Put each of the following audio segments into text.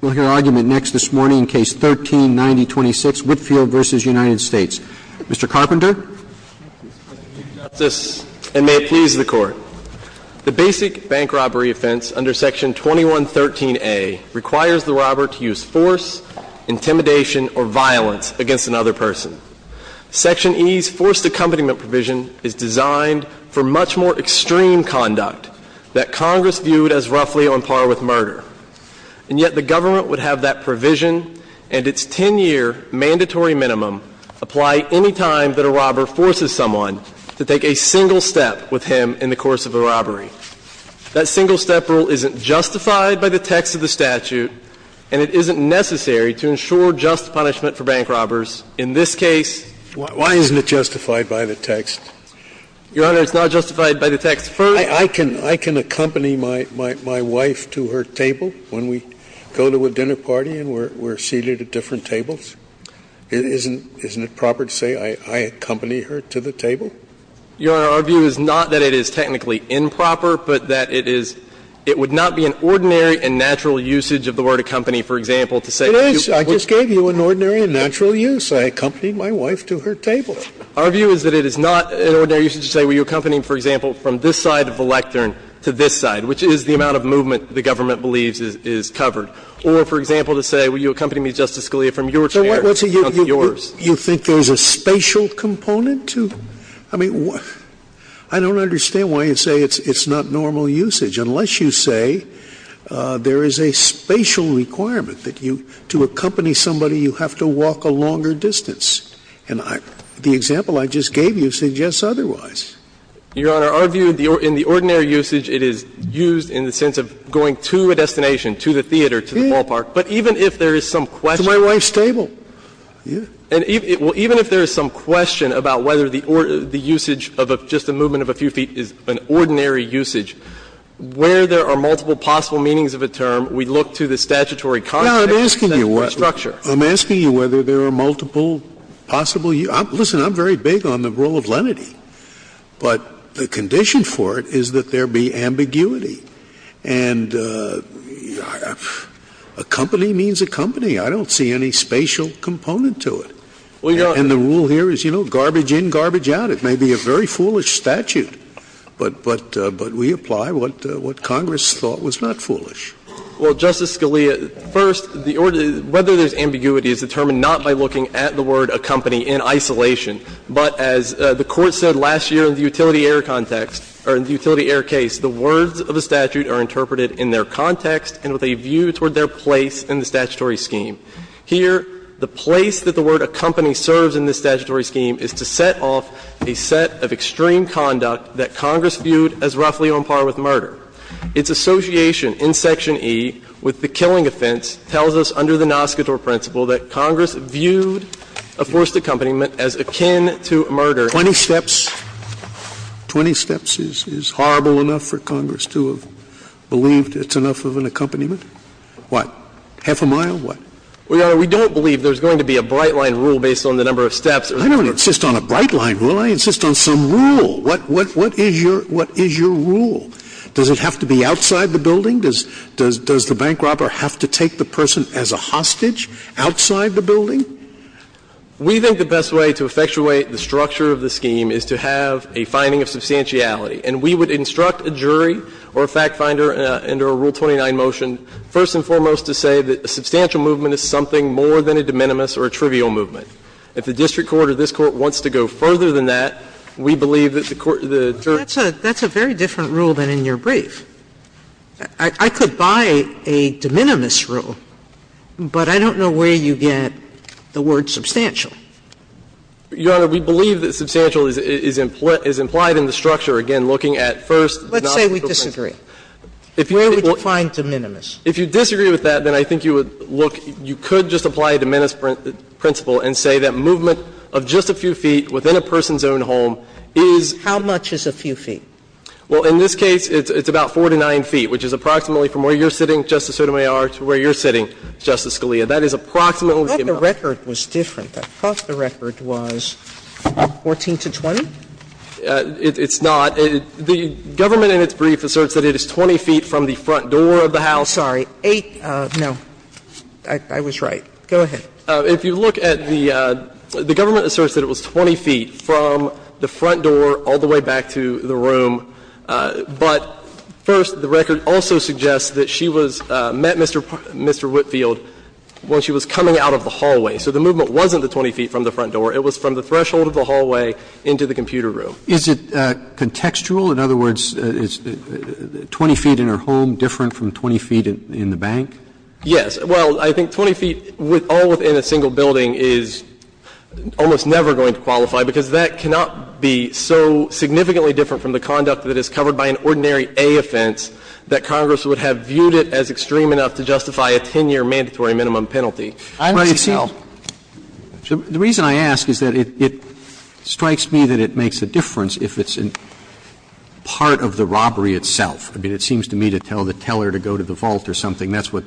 We'll hear argument next this morning in Case 13-9026, Whitfield v. United States. Mr. Carpenter. Mr. Chief Justice, and may it please the Court, the basic bank robbery offense under Section 2113a requires the robber to use force, intimidation, or violence against another person. Section E's forced accompaniment provision is designed for much more extreme conduct that Congress viewed as roughly on par with murder. And yet the government would have that provision and its 10-year mandatory minimum apply any time that a robber forces someone to take a single step with him in the course of a robbery. That single-step rule isn't justified by the text of the statute, and it isn't necessary to ensure just punishment for bank robbers. In this case Why isn't it justified by the text? Your Honor, it's not justified by the text. I can accompany my wife to her table when we go to a dinner party and we're seated at different tables? Isn't it proper to say I accompany her to the table? Your Honor, our view is not that it is technically improper, but that it is – it would not be an ordinary and natural usage of the word accompany, for example, to say to people. It is. I just gave you an ordinary and natural use. I accompanied my wife to her table. Our view is that it is not an ordinary usage to say were you accompanying, for example, from this side of the lectern to this side, which is the amount of movement the government believes is covered. Or, for example, to say were you accompanying me, Justice Scalia, from your chair to yours. Scalia, you think there's a spatial component to – I mean, I don't understand why you'd say it's not normal usage unless you say there is a spatial requirement that you – to accompany somebody you have to walk a longer distance. And the example I just gave you suggests otherwise. Your Honor, our view in the ordinary usage, it is used in the sense of going to a destination, to the theater, to the ballpark. But even if there is some question of whether the usage of just a movement of a few feet is an ordinary usage, where there are multiple possible meanings of a term, we look to the statutory context and the structure. Scalia, I'm asking you whether there are multiple possible – listen, I'm very big on the role of lenity. But the condition for it is that there be ambiguity. And accompany means accompany. I don't see any spatial component to it. And the rule here is, you know, garbage in, garbage out. It may be a very foolish statute. But we apply what Congress thought was not foolish. Well, Justice Scalia, first, whether there's ambiguity is determined not by looking at the word accompany in isolation. But as the Court said last year in the Utility Air context, or in the Utility Air case, the words of the statute are interpreted in their context and with a view toward their place in the statutory scheme. Here, the place that the word accompany serves in this statutory scheme is to set off a set of extreme conduct that Congress viewed as roughly on par with murder. Its association in Section E with the killing offense tells us, under the Noscator principle, that Congress viewed a forced accompaniment as akin to murder. Twenty steps. Twenty steps is horrible enough for Congress to have believed it's enough of an accompaniment? What? Half a mile? What? Well, Your Honor, we don't believe there's going to be a bright-line rule based on the number of steps. I don't insist on a bright-line rule. I insist on some rule. What is your rule? Does it have to be outside the building? Does the bank robber have to take the person as a hostage? Outside the building? We think the best way to effectuate the structure of the scheme is to have a finding of substantiality. And we would instruct a jury or a fact finder under a Rule 29 motion, first and foremost, to say that a substantial movement is something more than a de minimis or a trivial movement. If the district court or this Court wants to go further than that, we believe that the court or the jury That's a very different rule than in your brief. I could buy a de minimis rule, but I don't know where you get the word substantial. Your Honor, we believe that substantial is implied in the structure, again, looking at first, not the principle. Let's say we disagree. Where would you find de minimis? If you disagree with that, then I think you would look you could just apply a de minimis principle and say that movement of just a few feet within a person's own home is How much is a few feet? Well, in this case, it's about 4 to 9 feet, which is approximately from where you're sitting, Justice Sotomayor, to where you're sitting, Justice Scalia. That is approximately the amount I thought the record was different. I thought the record was 14 to 20. It's not. The government in its brief asserts that it is 20 feet from the front door of the house. Sorry. Eight. No. I was right. Go ahead. If you look at the government asserts that it was 20 feet from the front door all the way back to the room, but first the record also suggests that she was met Mr. Whitfield when she was coming out of the hallway. So the movement wasn't the 20 feet from the front door. It was from the threshold of the hallway into the computer room. Is it contextual? In other words, is 20 feet in her home different from 20 feet in the bank? Yes. Well, I think 20 feet all within a single building is almost never going to qualify, because that cannot be so significantly different from the conduct that is covered by an ordinary A offense that Congress would have viewed it as extreme enough to justify a 10-year mandatory minimum penalty. The reason I ask is that it strikes me that it makes a difference if it's part of the robbery itself. I mean, it seems to me to tell the teller to go to the vault or something. That's what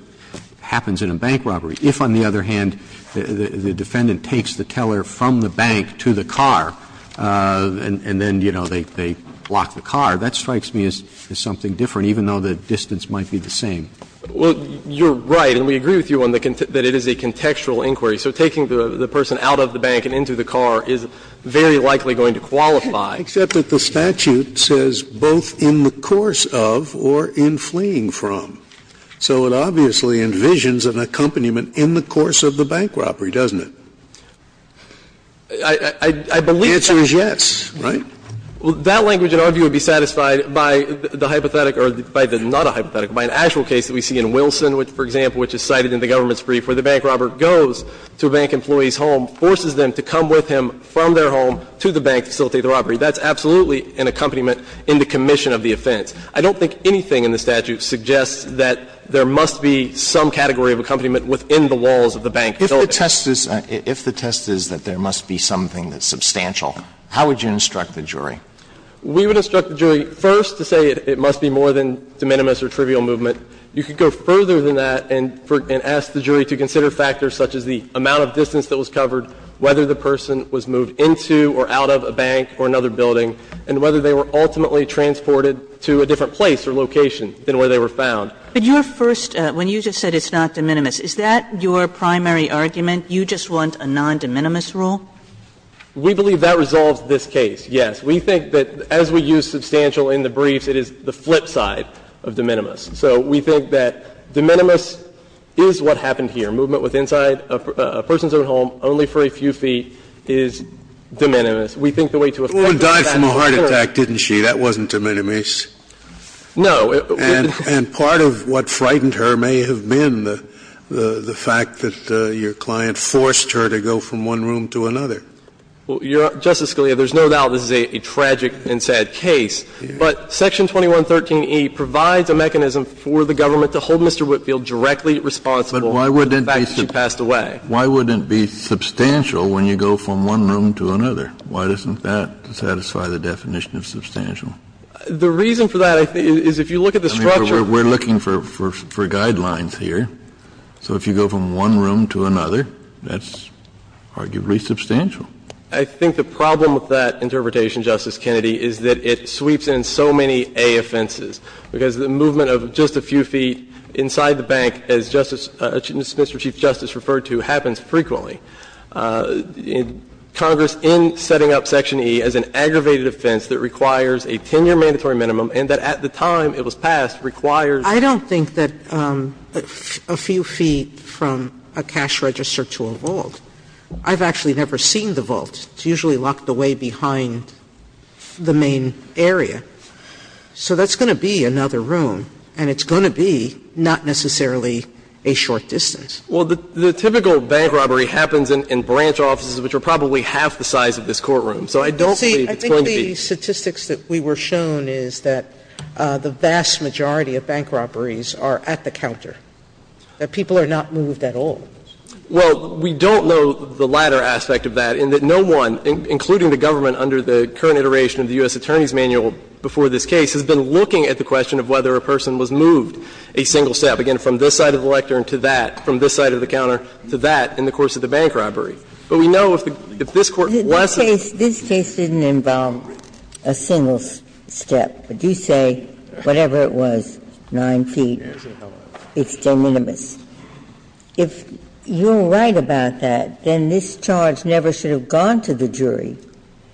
happens in a bank robbery. If, on the other hand, the defendant takes the teller from the bank to the car and then, you know, they block the car, that strikes me as something different, even though the distance might be the same. Well, you're right, and we agree with you that it is a contextual inquiry. So taking the person out of the bank and into the car is very likely going to qualify. Except that the statute says both in the course of or in fleeing from. So it obviously envisions an accompaniment in the course of the bank robbery, doesn't it? I believe that's the case. The answer is yes, right? Well, that language, in our view, would be satisfied by the hypothetical or by the not a hypothetical, by an actual case that we see in Wilson, which, for example, which is cited in the government's brief where the bank robber goes to a bank employee's home, forces them to come with him from their home to the bank to facilitate the robbery. That's absolutely an accompaniment in the commission of the offense. I don't think anything in the statute suggests that there must be some category of accompaniment within the walls of the bank building. If the test is that there must be something that's substantial, how would you instruct the jury? We would instruct the jury first to say it must be more than de minimis or trivial movement. You could go further than that and ask the jury to consider factors such as the amount of distance that was covered, whether the person was moved into or out of a bank or another building, and whether they were ultimately transported to a different place or location than where they were found. But your first, when you just said it's not de minimis, is that your primary argument? You just want a non-de minimis rule? We believe that resolves this case, yes. We think that, as we use substantial in the briefs, it is the flip side of de minimis. So we think that de minimis is what happened here. Movement with inside a person's own home only for a few feet is de minimis. We think the way to effect that is de minimis. The woman died from a heart attack, didn't she? That wasn't de minimis. No. And part of what frightened her may have been the fact that your client forced her to go from one room to another. Justice Scalia, there's no doubt this is a tragic and sad case, but Section 2113e provides a mechanism for the government to hold Mr. Whitfield directly responsible for the fact that she passed away. But why wouldn't it be substantial when you go from one room to another? Why doesn't that satisfy the definition of substantial? The reason for that, I think, is if you look at the structure. We're looking for guidelines here. So if you go from one room to another, that's arguably substantial. I think the problem with that interpretation, Justice Kennedy, is that it sweeps in so many A offenses, because the movement of just a few feet inside the bank, as Justice Mr. Chief Justice referred to, happens frequently. Congress, in setting up Section E, as an aggravated offense that requires a 10-year mandatory minimum and that at the time it was passed, requires ---- I don't think that a few feet from a cash register to a vault. I've actually never seen the vault. It's usually locked away behind the main area. So that's going to be another room, and it's going to be not necessarily a short distance. Well, the typical bank robbery happens in branch offices, which are probably half the size of this courtroom. So I don't believe it's going to be ---- See, I think the statistics that we were shown is that the vast majority of bank robberies are at the counter, that people are not moved at all. Well, we don't know the latter aspect of that, in that no one, including the government under the current iteration of the U.S. Attorney's Manual before this case, has been looking at the question of whether a person was moved a single step, again, from this side of the lectern to that, from this side of the counter to that, in the course of the bank robbery. But we know if this Court wants to ---- This case didn't involve a single step. But you say, whatever it was, 9 feet, it's de minimis. If you're right about that, then this charge never should have gone to the jury.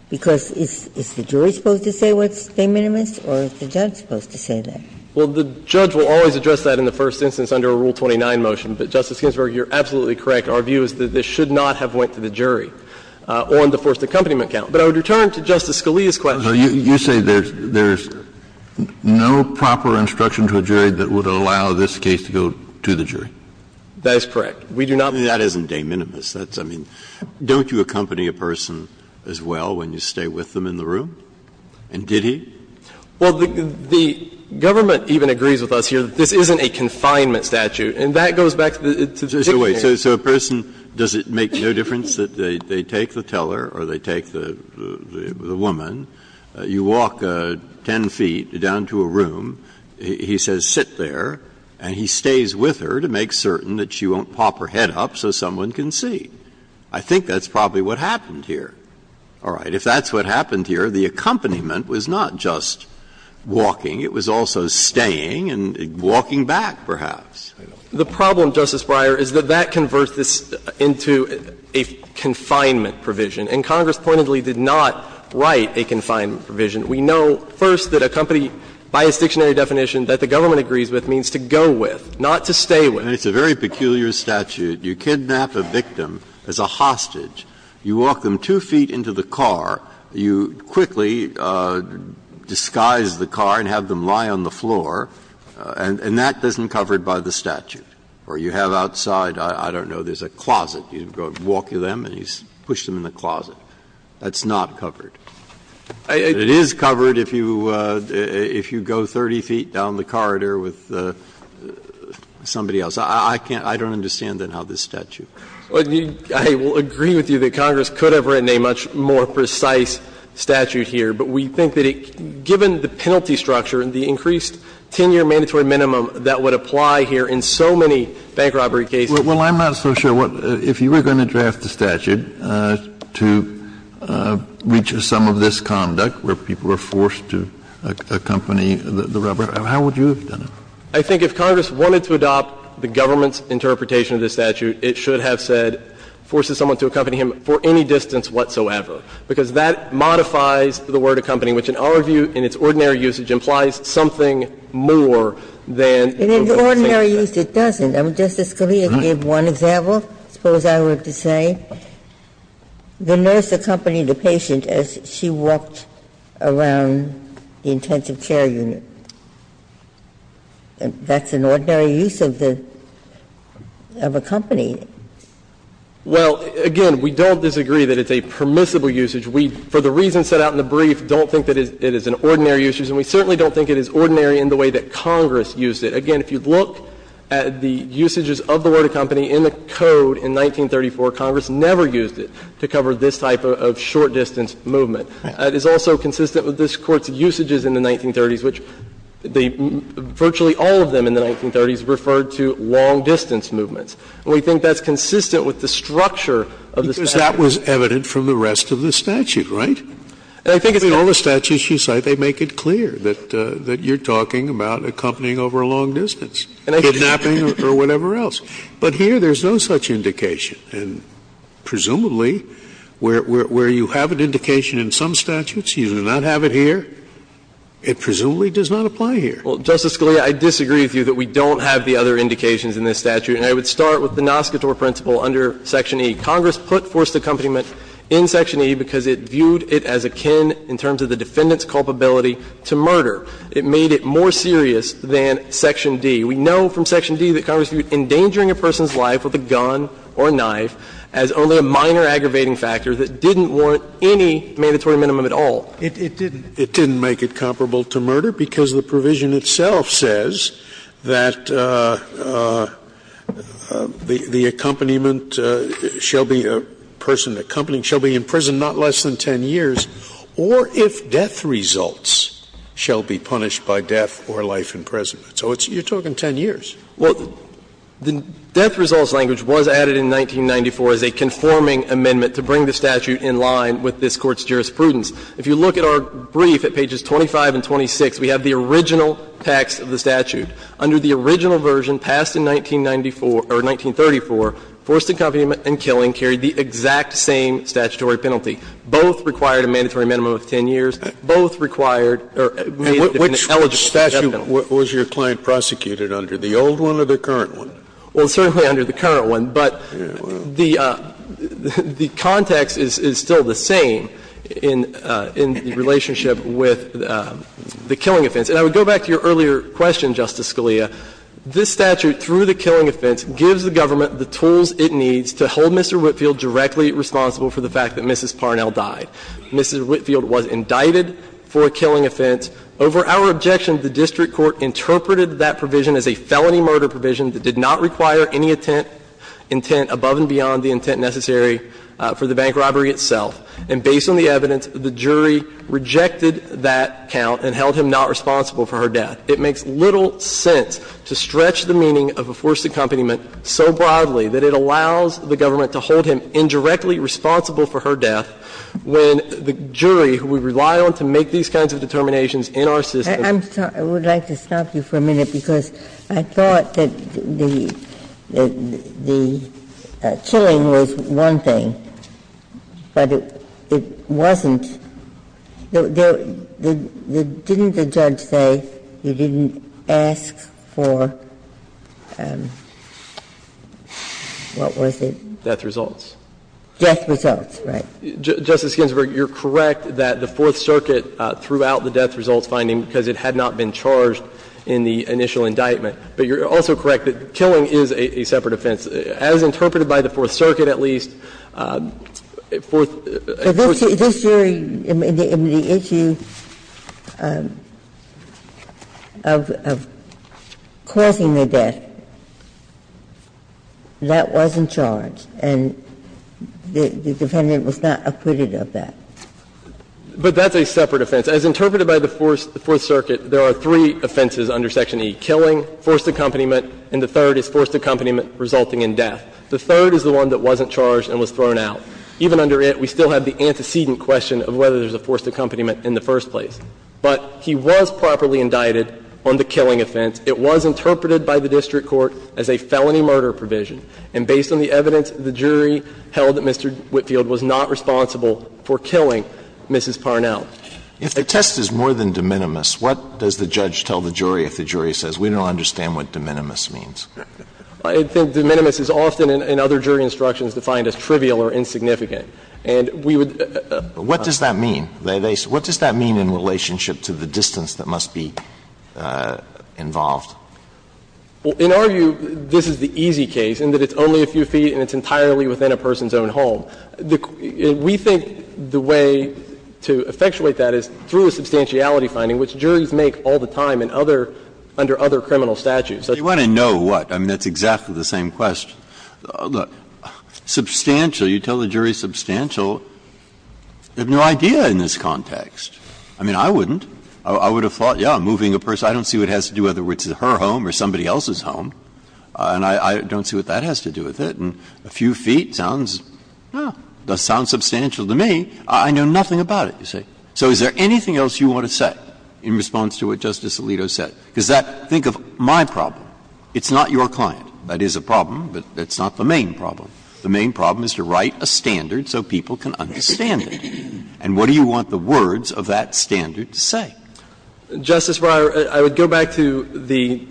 Because is the jury supposed to say what's de minimis, or is the judge supposed to say that? Well, the judge will always address that in the first instance under a Rule 29 motion. But, Justice Ginsburg, you're absolutely correct. Our view is that this should not have went to the jury on the forced accompaniment count. But I would return to Justice Scalia's question. So you say there's no proper instruction to a jury that would allow this case to go to the jury? That is correct. We do not ---- That isn't de minimis. That's, I mean, don't you accompany a person as well when you stay with them in the room? And did he? Well, the government even agrees with us here that this isn't a confinement statute. And that goes back to the dictionary. So a person, does it make no difference that they take the teller or they take the woman, you walk 10 feet down to a room, he says sit there, and he stays with her to make certain that she won't pop her head up so someone can see? I think that's probably what happened here. All right. If that's what happened here, the accompaniment was not just walking. It was also staying and walking back, perhaps. The problem, Justice Breyer, is that that converts this into a confinement provision. And Congress pointedly did not write a confinement provision. We know, first, that accompany, by its dictionary definition, that the government agrees with means to go with, not to stay with. It's a very peculiar statute. You kidnap a victim as a hostage. You walk them 2 feet into the car. You quickly disguise the car and have them lie on the floor. And that isn't covered by the statute. Or you have outside, I don't know, there's a closet. You go walk to them and you push them in the closet. That's not covered. It is covered if you go 30 feet down the corridor with somebody else. I can't – I don't understand, then, how this statute is covered. I will agree with you that Congress could have written a much more precise statute here. But we think that it – given the penalty structure and the increased 10-year mandatory minimum that would apply here in so many bank robbery cases. Well, I'm not so sure what – if you were going to draft a statute to reach a sum of this conduct, where people are forced to accompany the robber, how would you have done it? I think if Congress wanted to adopt the government's interpretation of this statute, it should have said, forces someone to accompany him for any distance whatsoever. Because that modifies the word accompany, which in our view, in its ordinary usage, implies something more than the word accompany. And in the ordinary use, it doesn't. Justice Scalia gave one example, I suppose I would have to say. The nurse accompanying the patient as she walked around the intensive care unit. And that's an ordinary use of the – of accompany. Well, again, we don't disagree that it's a permissible usage. We, for the reasons set out in the brief, don't think that it is an ordinary usage. And we certainly don't think it is ordinary in the way that Congress used it. Again, if you look at the usages of the word accompany in the code in 1934, Congress never used it to cover this type of short-distance movement. It is also consistent with this Court's usages in the 1930s, which they – virtually all of them in the 1930s referred to long-distance movements. And we think that's consistent with the structure of this statute. Scalia, because that was evident from the rest of the statute, right? I mean, all the statutes you cite, they make it clear that you're talking about accompanying over a long distance, kidnapping or whatever else. But here, there's no such indication. And presumably, where you have an indication in some statutes, you do not have it here, it presumably does not apply here. Well, Justice Scalia, I disagree with you that we don't have the other indications in this statute. And I would start with the Nascotor principle under Section E. Congress put forced accompaniment in Section E because it viewed it as akin, in terms of the defendant's culpability, to murder. It made it more serious than Section D. We know from Section D that Congress viewed endangering a person's life with a gun or knife as only a minor aggravating factor that didn't warrant any mandatory minimum at all. It didn't. It didn't make it comparable to murder because the provision itself says that the accompaniment shall be a person accompanying shall be in prison not less than 10 years or if death results shall be punished by death or life in prison. So it's you're talking 10 years. Well, the death results language was added in 1994 as a conforming amendment to bring the statute in line with this Court's jurisprudence. If you look at our brief at pages 25 and 26, we have the original text of the statute. Under the original version passed in 1994 or 1934, forced accompaniment and killing carried the exact same statutory penalty. Both required a mandatory minimum of 10 years. Both required or made the defendant eligible for death penalty. The statute was your client prosecuted under, the old one or the current one? Well, certainly under the current one. But the context is still the same in the relationship with the killing offense. And I would go back to your earlier question, Justice Scalia. This statute, through the killing offense, gives the government the tools it needs to hold Mr. Whitfield directly responsible for the fact that Mrs. Parnell died. Mrs. Whitfield was indicted for a killing offense. Over our objection, the district court interpreted that provision as a felony murder provision that did not require any intent above and beyond the intent necessary for the bank robbery itself. And based on the evidence, the jury rejected that count and held him not responsible for her death. It makes little sense to stretch the meaning of a forced accompaniment so broadly that it allows the government to hold him indirectly responsible for her death when the jury, who we rely on to make these kinds of determinations in our system. I'm sorry. I would like to stop you for a minute because I thought that the killing was one thing, but it wasn't. Didn't the judge say you didn't ask for what was it? Death results. Death results, right. Justice Ginsburg, you're correct that the Fourth Circuit threw out the death results finding because it had not been charged in the initial indictment. But you're also correct that killing is a separate offense. As interpreted by the Fourth Circuit, at least, Fourth Circuit wasn't charged. But this jury, in the issue of causing the death, that wasn't charged. And the defendant was not acquitted of that. But that's a separate offense. As interpreted by the Fourth Circuit, there are three offenses under Section E, killing, forced accompaniment, and the third is forced accompaniment resulting in death. The third is the one that wasn't charged and was thrown out. Even under it, we still have the antecedent question of whether there's a forced accompaniment in the first place. But he was properly indicted on the killing offense. It was interpreted by the district court as a felony murder provision. And based on the evidence, the jury held that Mr. Whitfield was not responsible for killing Mrs. Parnell. Alito, if the test is more than de minimis, what does the judge tell the jury if the jury says, we don't understand what de minimis means? I think de minimis is often, in other jury instructions, defined as trivial or insignificant. And we would ---- But what does that mean? What does that mean in relationship to the distance that must be involved? Well, in our view, this is the easy case in that it's only a few feet and it's entirely within a person's own home. We think the way to effectuate that is through a substantiality finding, which juries make all the time in other under other criminal statutes. Breyer. You want to know what? I mean, that's exactly the same question. Substantial. You tell the jury substantial, they have no idea in this context. I mean, I wouldn't. I would have thought, yes, moving a person, I don't see what it has to do with whether it's her home or somebody else's home. And I don't see what that has to do with it. And a few feet sounds, no, does sound substantial to me. I know nothing about it, you see. So is there anything else you want to say in response to what Justice Alito said? Because that ---- think of my problem. It's not your client. That is a problem, but it's not the main problem. The main problem is to write a standard so people can understand it. And what do you want the words of that standard to say? Justice Breyer, I would go back to the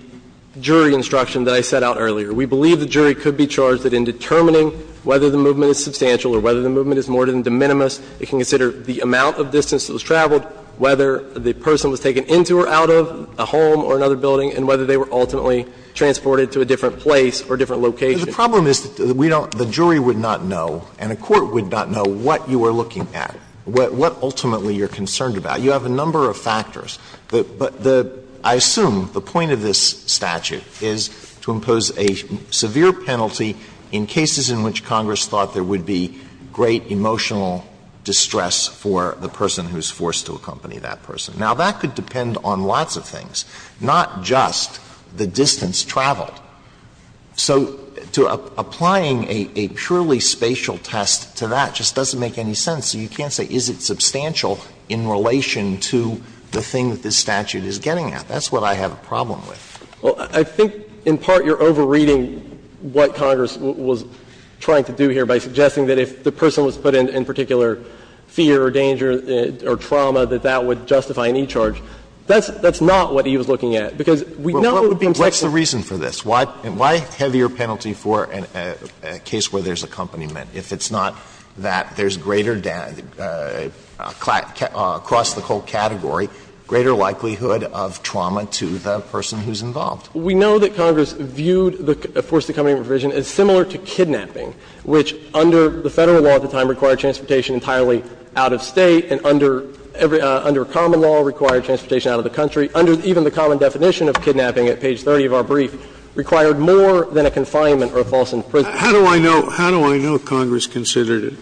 jury instruction that I set out earlier. We believe the jury could be charged that in determining whether the movement is substantial or whether the movement is more than de minimis, it can consider the amount of distance that was traveled, whether the person was taken into or out of a home or another building, and whether they were ultimately transported to a different place or different location. The problem is that we don't ---- the jury would not know and a court would not know what you are looking at, what ultimately you're concerned about. You have a number of factors. But the ---- I assume the point of this statute is to impose a severe penalty in cases in which Congress thought there would be great emotional distress for the person who is forced to accompany that person. Now, that could depend on lots of things, not just the distance traveled. So to applying a purely spatial test to that just doesn't make any sense. You can't say is it substantial in relation to the thing that this statute is getting at. That's what I have a problem with. Well, I think in part you're overreading what Congress was trying to do here by suggesting that if the person was put in particular fear or danger or trauma, that that would justify any charge. That's not what he was looking at, because we know in context that we can't do that. What's the reason for this? Why a heavier penalty for a case where there's accompaniment if it's not that there's greater across the whole category, greater likelihood of trauma to the person who's involved? We know that Congress viewed the forced accompaniment provision as similar to kidnapping, which under the Federal law at the time required transportation entirely out of State and under common law required transportation out of the country. Under even the common definition of kidnapping at page 30 of our brief, required more than a confinement or a false imprisonment. Scalia, how do I know Congress considered it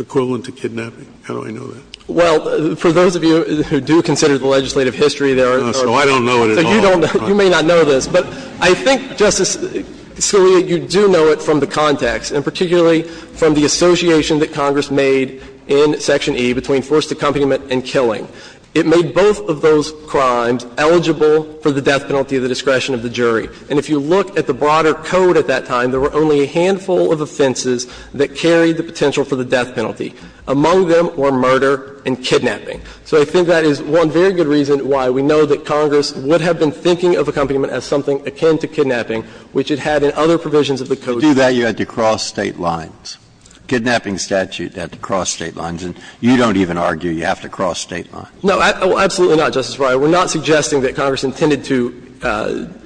equivalent to kidnapping? How do I know that? Well, for those of you who do consider the legislative history, there are many. So I don't know it at all. You may not know this, but I think, Justice Scalia, you do know it from the context and particularly from the association that Congress made in Section E between forced accompaniment and killing. It made both of those crimes eligible for the death penalty of the discretion of the jury. And if you look at the broader code at that time, there were only a handful of offenses that carried the potential for the death penalty. Among them were murder and kidnapping. So I think that is one very good reason why we know that Congress would have been thinking of accompaniment as something akin to kidnapping, which it had in other provisions of the Code. Breyer, you had to cross State lines. Kidnapping statute had to cross State lines. And you don't even argue you have to cross State lines. No, absolutely not, Justice Breyer. We're not suggesting that Congress intended to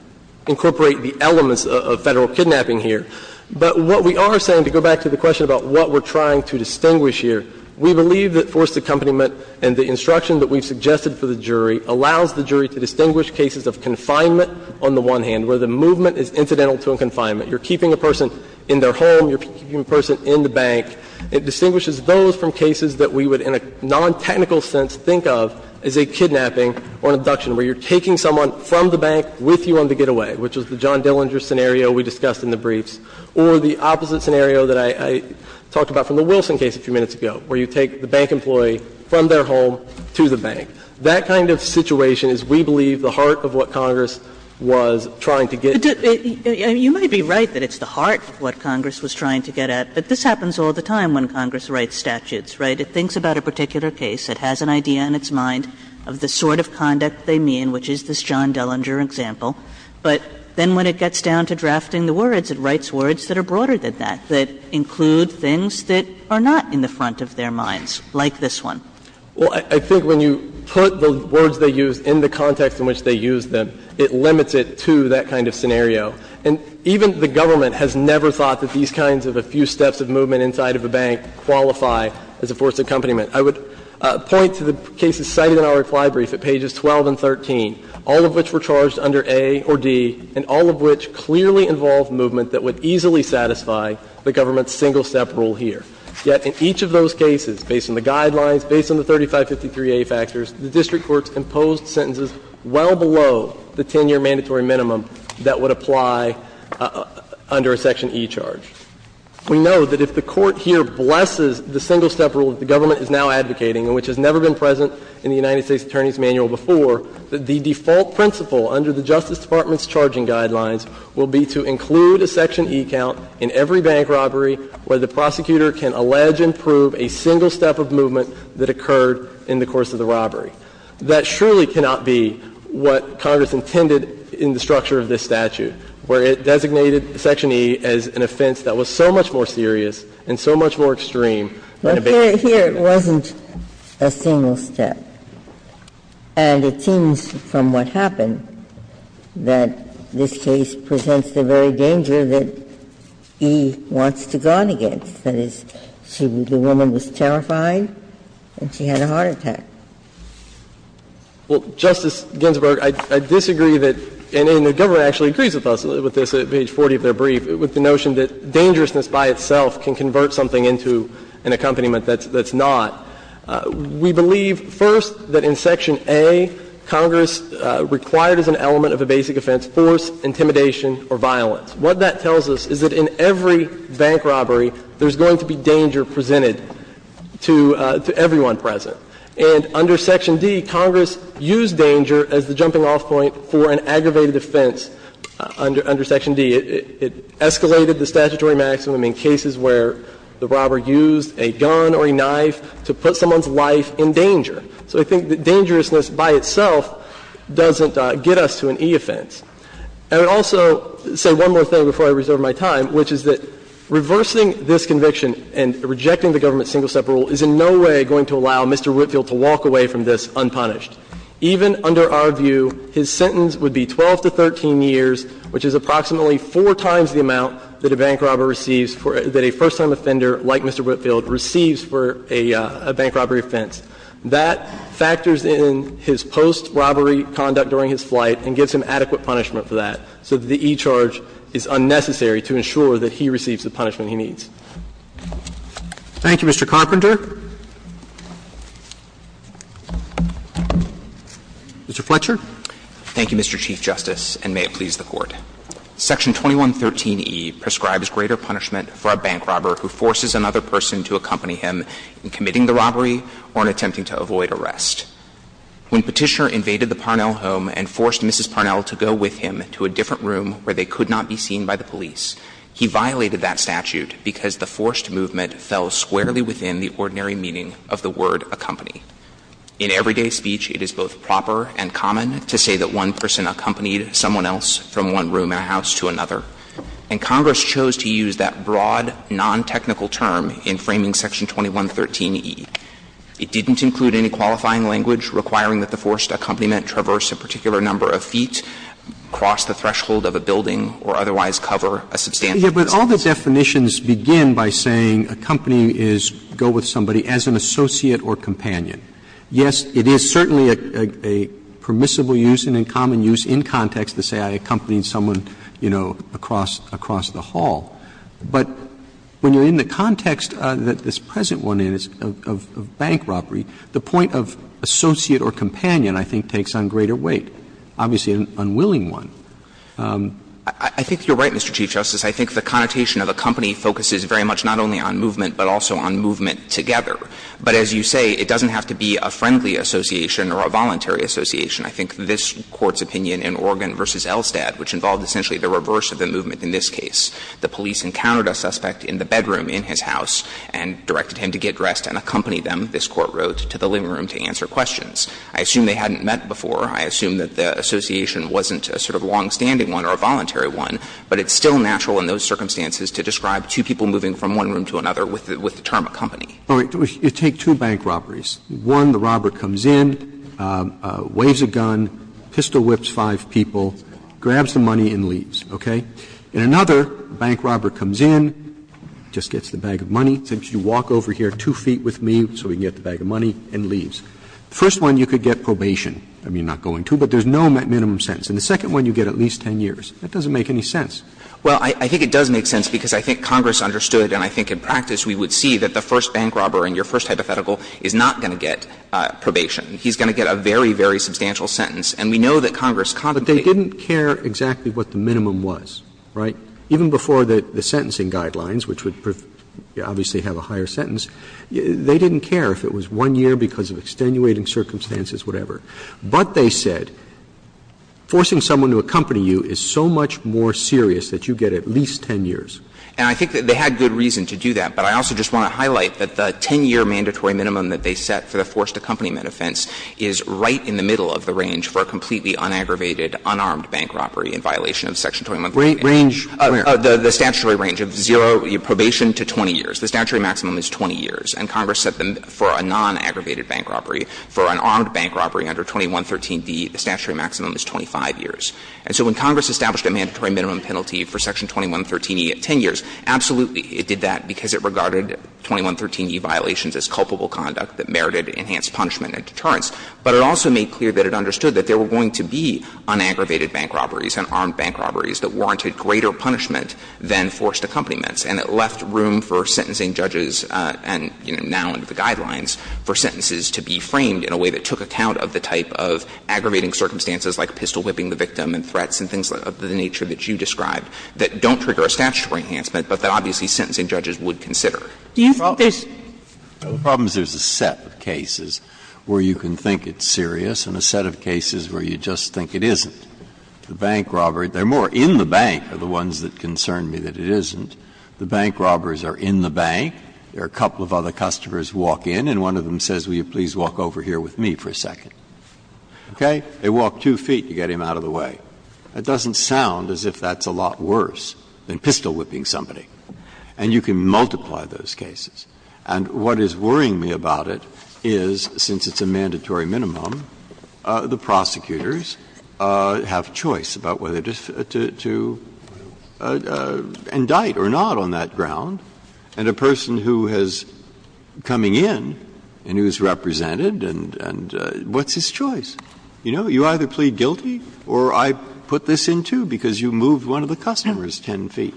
incorporate the elements of Federal kidnapping here. But what we are saying, to go back to the question about what we're trying to distinguish here, we believe that forced accompaniment and the instruction that we've suggested for the jury allows the jury to distinguish cases of confinement on the one hand, where the movement is incidental to a confinement. You're keeping a person in their home, you're keeping a person in the bank. It distinguishes those from cases that we would in a non-technical sense think of as a kidnapping or an abduction, where you're taking someone from the bank with you on the getaway, which is the John Dillinger scenario we discussed in the briefs, or the opposite scenario that I talked about from the Wilson case a few minutes ago, where you take the bank employee from their home to the bank. That kind of situation is, we believe, the heart of what Congress was trying to get. Kagan. You might be right that it's the heart of what Congress was trying to get at, but this happens all the time when Congress writes statutes, right? It thinks about a particular case, it has an idea in its mind of the sort of conduct they mean, which is this John Dillinger example, but then when it gets down to drafting the words, it writes words that are broader than that, that include things that are not in the front of their minds, like this one. Well, I think when you put the words they use in the context in which they use them, it limits it to that kind of scenario. And even the government has never thought that these kinds of a few steps of movement inside of a bank qualify as a forced accompaniment. I would point to the cases cited in our reply brief at pages 12 and 13, all of which were charged under A or D, and all of which clearly involved movement that would easily satisfy the government's single-step rule here. Yet in each of those cases, based on the guidelines, based on the 3553A factors, the district courts imposed sentences well below the 10-year mandatory minimum that would apply under a section E charge. We know that if the Court here blesses the single-step rule that the government is now advocating, and which has never been present in the United States Attorney's Manual before, that the default principle under the Justice Department's charging guidelines will be to include a section E count in every bank robbery where the prosecutor can allege and prove a single step of movement that occurred in the course of the robbery. That surely cannot be what Congress intended in the structure of this statute, where it designated section E as an offense that was so much more serious and so much more extreme than a bank robbery. Ginsburg. But here it wasn't a single step. And it seems from what happened that this case presents the very danger that E wants to guard against, that is, the woman was terrified and she had a heart attack. Well, Justice Ginsburg, I disagree that N.A. and the government actually agrees with us with this at page 40 of their brief, with the notion that dangerousness by itself can convert something into an accompaniment that's not. We believe, first, that in section A, Congress required as an element of a basic offense force, intimidation, or violence. What that tells us is that in every bank robbery, there's going to be danger presented to everyone present. And under section D, Congress used danger as the jumping-off point for an aggravated offense under section D. It escalated the statutory maximum in cases where the robber used a gun or a knife to put someone's life in danger. So I think that dangerousness by itself doesn't get us to an E offense. And I would also say one more thing before I reserve my time, which is that reversing this conviction and rejecting the government's single-step rule is in no way going to allow Mr. Whitfield to walk away from this unpunished. Even under our view, his sentence would be 12 to 13 years, which is approximately four times the amount that a bank robber receives for — that a first-time offender like Mr. Whitfield receives for a bank robbery offense. That factors in his post-robbery conduct during his flight and gives him adequate punishment for that, so that the E charge is unnecessary to ensure that he receives the punishment he needs. Thank you, Mr. Carpenter. Mr. Fletcher. Thank you, Mr. Chief Justice, and may it please the Court. Section 2113e prescribes greater punishment for a bank robber who forces another person to accompany him in committing the robbery or in attempting to avoid arrest. When Petitioner invaded the Parnell home and forced Mrs. Parnell to go with him to a different room where they could not be seen by the police, he violated that statute because the forced movement fell squarely within the ordinary meaning of the word accompany. In everyday speech, it is both proper and common to say that one person accompanied someone else from one room in a house to another. And Congress chose to use that broad, nontechnical term in framing Section 2113e. It didn't include any qualifying language requiring that the forced accompaniment traverse a particular number of feet, cross the threshold of a building, or otherwise cover a substantial space. But all the definitions begin by saying accompanying is go with somebody as an associate or companion. Yes, it is certainly a permissible use and a common use in context to say I accompanied someone, you know, across the hall. But when you're in the context that this present one is, of bank robbery, the point of associate or companion, I think, takes on greater weight, obviously an unwilling one. I think you're right, Mr. Chief Justice. I think the connotation of accompany focuses very much not only on movement, but also on movement together. But as you say, it doesn't have to be a friendly association or a voluntary association. I think this Court's opinion in Oregon v. Elstad, which involved essentially the reverse of the movement in this case, the police encountered a suspect in the bedroom in his house and directed him to get dressed and accompany them, this Court wrote, to the living room to answer questions. I assume they hadn't met before. I assume that the association wasn't a sort of longstanding one or a voluntary one, but it's still natural in those circumstances to describe two people moving from one room to another with the term accompany. Roberts, you take two bank robberies. One, the robber comes in, waves a gun, pistol whips five people, grabs the money and leaves, okay? In another, bank robber comes in, just gets the bag of money, says you walk over here two feet with me so we can get the bag of money, and leaves. First one, you could get probation. I mean, not going to, but there's no minimum sentence. And the second one, you get at least 10 years. That doesn't make any sense. Well, I think it does make sense, because I think Congress understood and I think in practice we would see that the first bank robber in your first hypothetical is not going to get probation. He's going to get a very, very substantial sentence. And we know that Congress contemplated. But they didn't care exactly what the minimum was, right? Even before the sentencing guidelines, which would obviously have a higher sentence, they didn't care if it was one year because of extenuating circumstances, whatever. But they said forcing someone to accompany you is so much more serious that you get at least 10 years. And I think that they had good reason to do that. But I also just want to highlight that the 10-year mandatory minimum that they set for the forced accompaniment offense is right in the middle of the range for a completely unaggravated, unarmed bank robbery in violation of Section 21. Range where? The statutory range of zero probation to 20 years. The statutory maximum is 20 years. And Congress set them for a nonaggravated bank robbery. For an armed bank robbery under 2113d, the statutory maximum is 25 years. And so when Congress established a mandatory minimum penalty for Section 2113e at 10 years, absolutely it did that because it regarded 2113e violations as culpable conduct that merited enhanced punishment and deterrence. But it also made clear that it understood that there were going to be unaggravated bank robberies and armed bank robberies that warranted greater punishment than forced accompaniments. And it left room for sentencing judges and, you know, now under the guidelines, for sentences to be framed in a way that took account of the type of aggravating circumstances like pistol-whipping the victim and threats and things of the nature that you described that don't trigger a statutory enhancement, but that obviously sentencing judges would consider. The problem is there's a set of cases where you can think it's serious and a set of cases where you just think it isn't. The bank robbery, they're more in the bank are the ones that concern me that it isn't. The bank robbers are in the bank. There are a couple of other customers who walk in and one of them says, will you please walk over here with me for a second. Okay? They walk two feet to get him out of the way. That doesn't sound as if that's a lot worse than pistol-whipping somebody. And you can multiply those cases. And what is worrying me about it is, since it's a mandatory minimum, the prosecutors have choice about whether to indict or not on that ground. And a person who has coming in and who is represented and what's his choice? You know, you either plead guilty or I put this in, too, because you moved one of the customers 10 feet.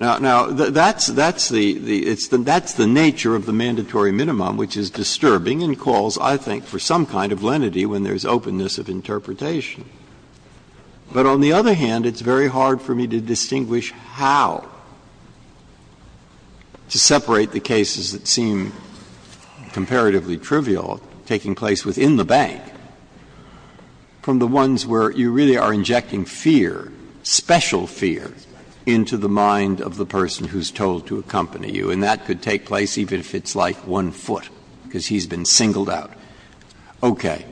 Now, that's the nature of the mandatory minimum, which is disturbing and calls, I think, for some kind of lenity when there's openness of interpretation. But on the other hand, it's very hard for me to distinguish how to separate the cases that seem comparatively trivial taking place within the bank from the ones where you really are injecting fear, special fear, into the mind of the person who's told to accompany you. And that could take place even if it's like one foot, because he's been singled out. Okay.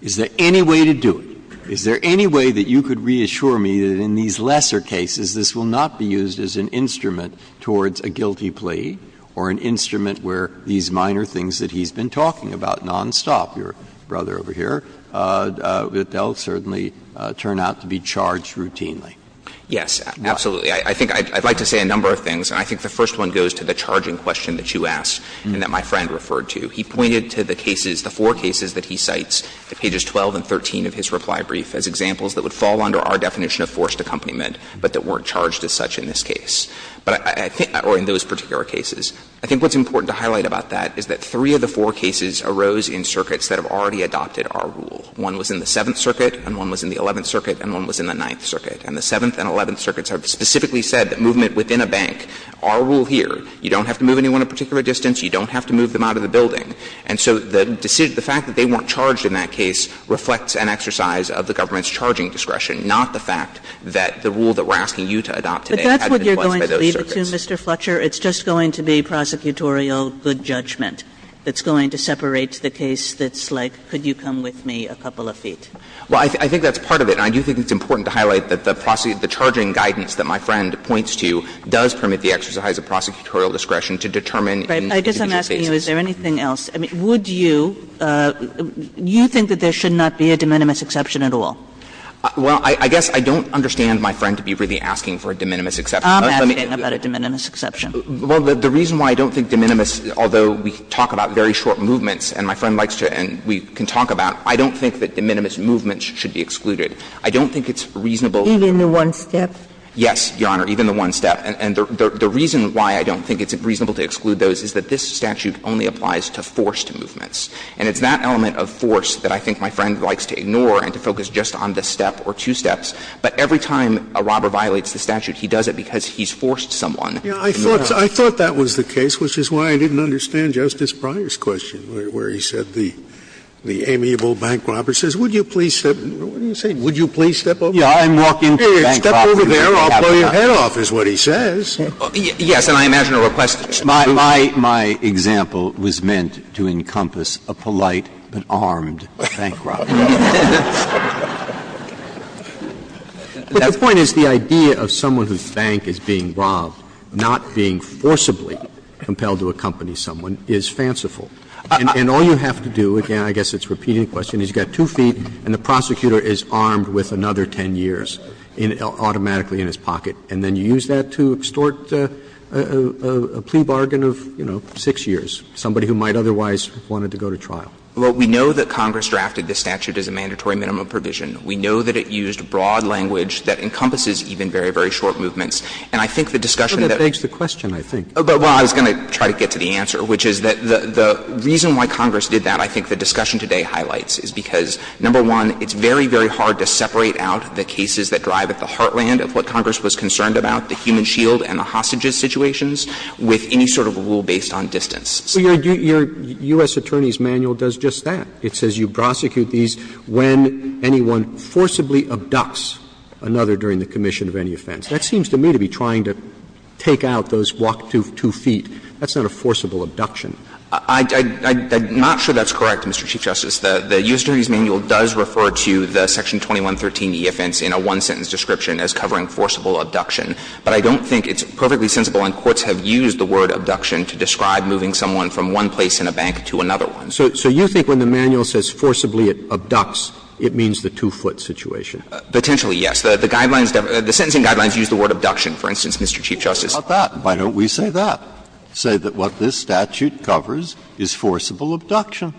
Is there any way to do it? Is there any way that you could reassure me that in these lesser cases this will not be used as an instrument towards a guilty plea or an instrument where these minor things that he's been talking about nonstop, your brother over here, that they'll certainly turn out to be charged routinely? Yes, absolutely. I think I'd like to say a number of things. And I think the first one goes to the charging question that you asked and that my friend referred to. He pointed to the cases, the four cases that he cites, pages 12 and 13 of his reply brief, as examples that would fall under our definition of forced accompaniment, but that weren't charged as such in this case. But I think or in those particular cases, I think what's important to highlight about that is that three of the four cases arose in circuits that have already adopted our rule. One was in the Seventh Circuit, and one was in the Eleventh Circuit, and one was in the Ninth Circuit. And the Seventh and Eleventh Circuits have specifically said that movement within a bank, our rule here, you don't have to move anyone a particular distance, you don't have to move them out of the building. And so the fact that they weren't charged in that case reflects an exercise of the government's charging discretion, not the fact that the rule that we're asking you to adopt today had been imposed by those circuits. But that's what you're going to leave it to, Mr. Fletcher. It's just going to be prosecutorial good judgment that's going to separate the case that's like, could you come with me a couple of feet. Well, I think that's part of it. And I do think it's important to highlight that the charging guidance that my friend points to does permit the exercise of prosecutorial discretion to determine individual cases. Kagan. I guess I'm asking you, is there anything else? I mean, would you – you think that there should not be a de minimis exception at all? Well, I guess I don't understand my friend to be really asking for a de minimis exception. I'm asking about a de minimis exception. Well, the reason why I don't think de minimis, although we talk about very short movements, and my friend likes to, and we can talk about, I don't think that de minimis movements should be excluded. I don't think it's reasonable. Even the one step? Yes, Your Honor, even the one step. And the reason why I don't think it's reasonable to exclude those is that this statute only applies to forced movements. And it's that element of force that I think my friend likes to ignore and to focus just on the step or two steps. But every time a robber violates the statute, he does it because he's forced someone. Yeah. I thought that was the case, which is why I didn't understand Justice Breyer's question, where he said the amiable bank robber says, would you please step – what are you saying? Would you please step over there? Yeah, I'm walking to the bank robber. Step over there, I'll blow your head off, is what he says. Yes, and I imagine a request to the bank robber. My example was meant to encompass a polite but armed bank robber. But the point is the idea of someone whose bank is being robbed not being forcibly compelled to accompany someone is fanciful. And all you have to do, again, I guess it's a repeating question, is you've got two feet and the prosecutor is armed with another 10 years. It's automatically in his pocket. And then you use that to extort a plea bargain of, you know, 6 years, somebody who might otherwise have wanted to go to trial. Well, we know that Congress drafted the statute as a mandatory minimum provision. We know that it used broad language that encompasses even very, very short movements. And I think the discussion that we have today highlights that, number one, it's very, very hard to separate out the cases that drive at the heartland of what Congress was concerned about, the human shield and the hostages situations, with any sort of a rule based on distance. So your U.S. Attorney's manual does just that. It says you prosecute these when anyone forcibly abducts another during the commission of any offense. That seems to me to be trying to take out those walk two feet. That's not a forcible abduction. I'm not sure that's correct, Mr. Chief Justice. The U.S. Attorney's manual does refer to the section 2113e offense in a one-sentence description as covering forcible abduction. But I don't think it's perfectly sensible, and courts have used the word abduction to describe moving someone from one place in a bank to another one. So you think when the manual says forcibly abducts, it means the two-foot situation? Potentially, yes. The guidelines, the sentencing guidelines use the word abduction, for instance, Mr. Chief Justice. Why don't we say that? Say that what this statute covers is forcible abduction.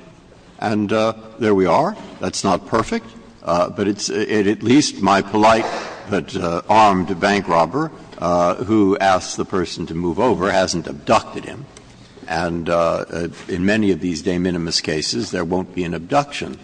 And there we are. That's not perfect, but it's at least my polite but armed bank robber who asks the person to move over hasn't abducted him. And in many of these de minimis cases, there won't be an abduction.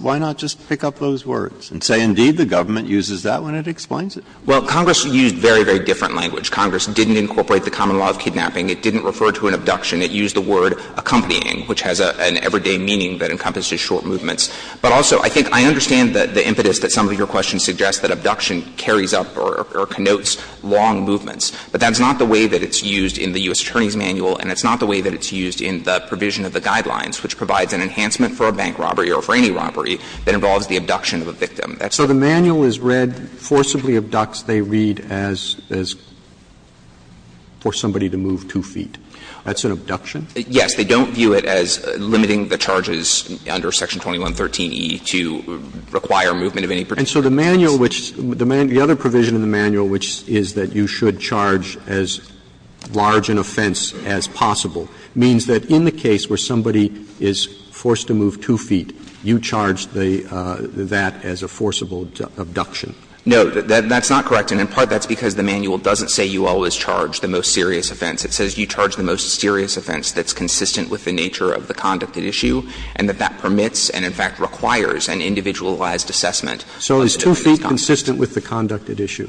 Why not just pick up those words and say indeed the government uses that when it explains it? Well, Congress used very, very different language. Congress didn't incorporate the common law of kidnapping. It didn't refer to an abduction. It used the word accompanying, which has an everyday meaning that encompasses short movements. But also, I think I understand the impetus that some of your questions suggest that abduction carries up or connotes long movements. But that's not the way that it's used in the U.S. Attorney's Manual, and it's not the way that it's used in the provision of the guidelines, which provides an enhancement for a bank robbery or for any robbery that involves the abduction of a victim. So the manual is read, forcibly abducts, they read as for somebody to move two feet. That's an abduction? Yes. They don't view it as limiting the charges under Section 2113e to require movement of any particular instance. And so the manual which the other provision in the manual which is that you should charge as large an offense as possible means that in the case where somebody is forced to move two feet, you charge that as a forcible abduction. No, that's not correct, and in part that's because the manual doesn't say you always charge the most serious offense. It says you charge the most serious offense that's consistent with the nature of the conducted issue and that that permits and in fact requires an individualized assessment. So is two feet consistent with the conducted issue?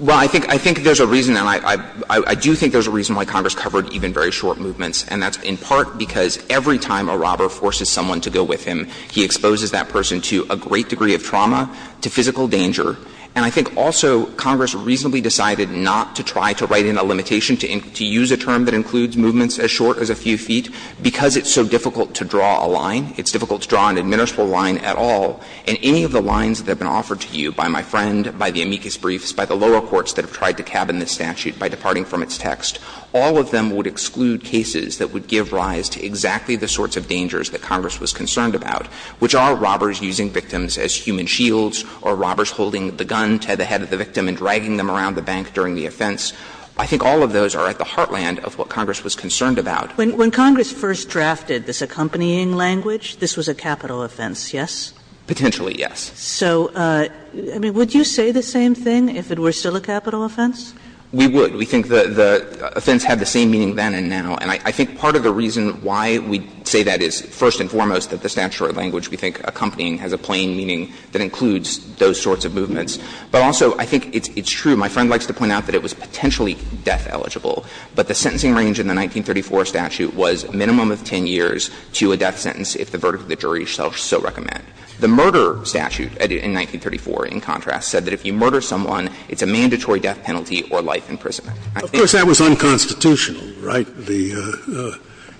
Well, I think there's a reason, and I do think there's a reason why Congress covered even very short movements, and that's in part because every time a robber forces someone to go with him, he exposes that person to a great degree of trauma, to physical danger. And I think also Congress reasonably decided not to try to write in a limitation to use a term that includes movements as short as a few feet because it's so difficult to draw a line, it's difficult to draw an admissible line at all, and any of the lines that have been offered to you by my friend, by the amicus briefs, by the lower courts that have tried to cabin this statute by departing from its text, all of them would exclude cases that would give rise to exactly the sorts of dangers that Congress was concerned about, which are robbers using victims as human shields or robbers holding the gun to the head of the victim and dragging them around the bank during the offense. I think all of those are at the heartland of what Congress was concerned about. When Congress first drafted this accompanying language, this was a capital offense, yes? Potentially, yes. So, I mean, would you say the same thing if it were still a capital offense? We would. We think the offense had the same meaning then and now. And I think part of the reason why we say that is, first and foremost, that the statutory language we think accompanying has a plain meaning that includes those sorts of movements. But also, I think it's true. My friend likes to point out that it was potentially death eligible. But the sentencing range in the 1934 statute was minimum of 10 years to a death sentence if the verdict of the jury shall so recommend. The murder statute in 1934, in contrast, said that if you murder someone, it's a mandatory death penalty or life imprisonment. I think that was unconstitutional, right? The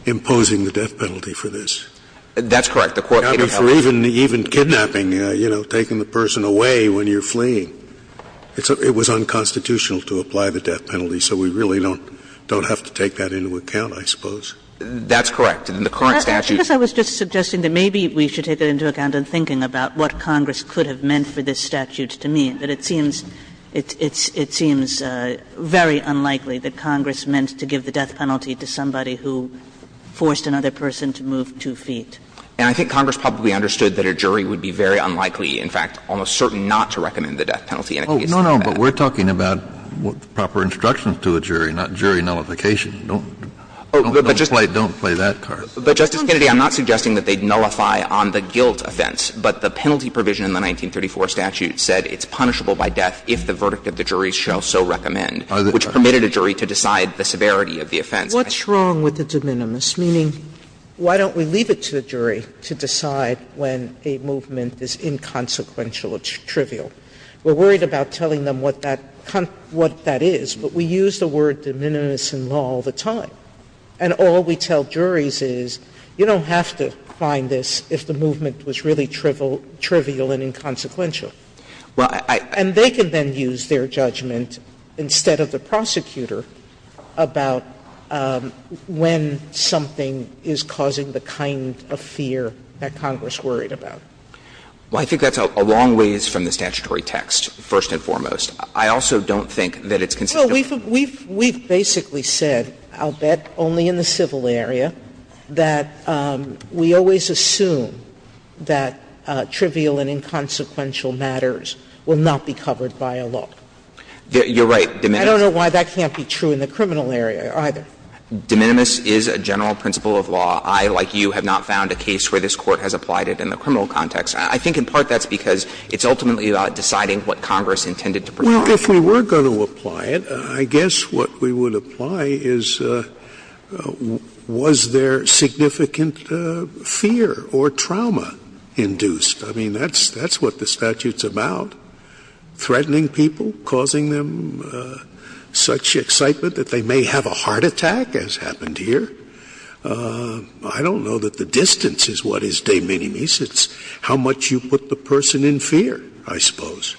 imposing the death penalty for this. That's correct. The court could have held it. Even kidnapping, you know, taking the person away when you're fleeing. It was unconstitutional to apply the death penalty. So we really don't have to take that into account, I suppose. That's correct. In the current statute. I guess I was just suggesting that maybe we should take it into account in thinking about what Congress could have meant for this statute to mean. But it seems, it seems very unlikely that Congress meant to give the death penalty to somebody who forced another person to move two feet. And I think Congress probably understood that a jury would be very unlikely, in fact, almost certain not to recommend the death penalty in a case like that. Oh, no, no. But we're talking about proper instructions to a jury, not jury nullification. Don't play that card. But, Justice Kennedy, I'm not suggesting that they'd nullify on the guilt offense. But the penalty provision in the 1934 statute said it's punishable by death if the verdict of the jury shall so recommend, which permitted a jury to decide the severity of the offense. What's wrong with the de minimis? Meaning, why don't we leave it to the jury to decide when a movement is inconsequential or trivial? We're worried about telling them what that is. But we use the word de minimis in law all the time. And all we tell juries is, you don't have to find this if the movement was really trivial and inconsequential. And they can then use their judgment, instead of the prosecutor, about when something is causing the kind of fear that Congress worried about. Well, I think that's a long ways from the statutory text, first and foremost. I also don't think that it's consistent. Sotomayor, we've basically said, I'll bet, only in the civil area, that we always assume that trivial and inconsequential matters will not be covered by a law. You're right, de minimis. I don't know why that can't be true in the criminal area, either. De minimis is a general principle of law. I, like you, have not found a case where this Court has applied it in the criminal context. I think in part that's because it's ultimately about deciding what Congress intended to provide. If we were going to apply it, I guess what we would apply is, was there significant fear or trauma induced? I mean, that's what the statute's about, threatening people, causing them such excitement that they may have a heart attack, as happened here. I don't know that the distance is what is de minimis. It's how much you put the person in fear, I suppose.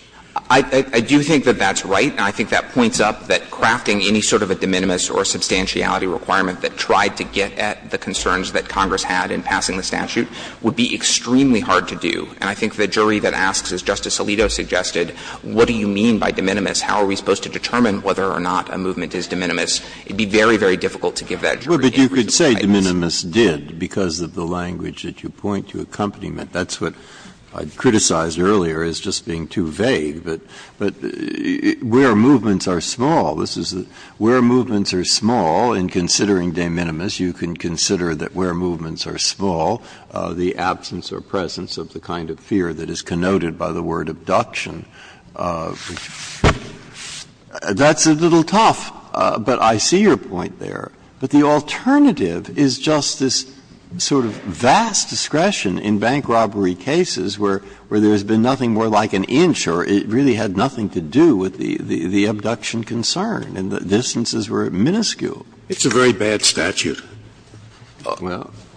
I do think that that's right, and I think that points up that crafting any sort of a de minimis or substantiality requirement that tried to get at the concerns that Congress had in passing the statute would be extremely hard to do. And I think the jury that asks, as Justice Alito suggested, what do you mean by de minimis? How are we supposed to determine whether or not a movement is de minimis? It would be very, very difficult to give that jury any reason to fight this. Breyer, but you could say de minimis did because of the language that you point to accompaniment. That's what I criticized earlier as just being too vague. But where movements are small, this is the – where movements are small, in considering de minimis, you can consider that where movements are small, the absence or presence of the kind of fear that is connoted by the word abduction. That's a little tough, but I see your point there. But the alternative is just this sort of vast discretion in bank robbery cases where there has been nothing more like an inch or it really had nothing to do with the abduction concern, and the distances were minuscule. Scalia. It's a very bad statute.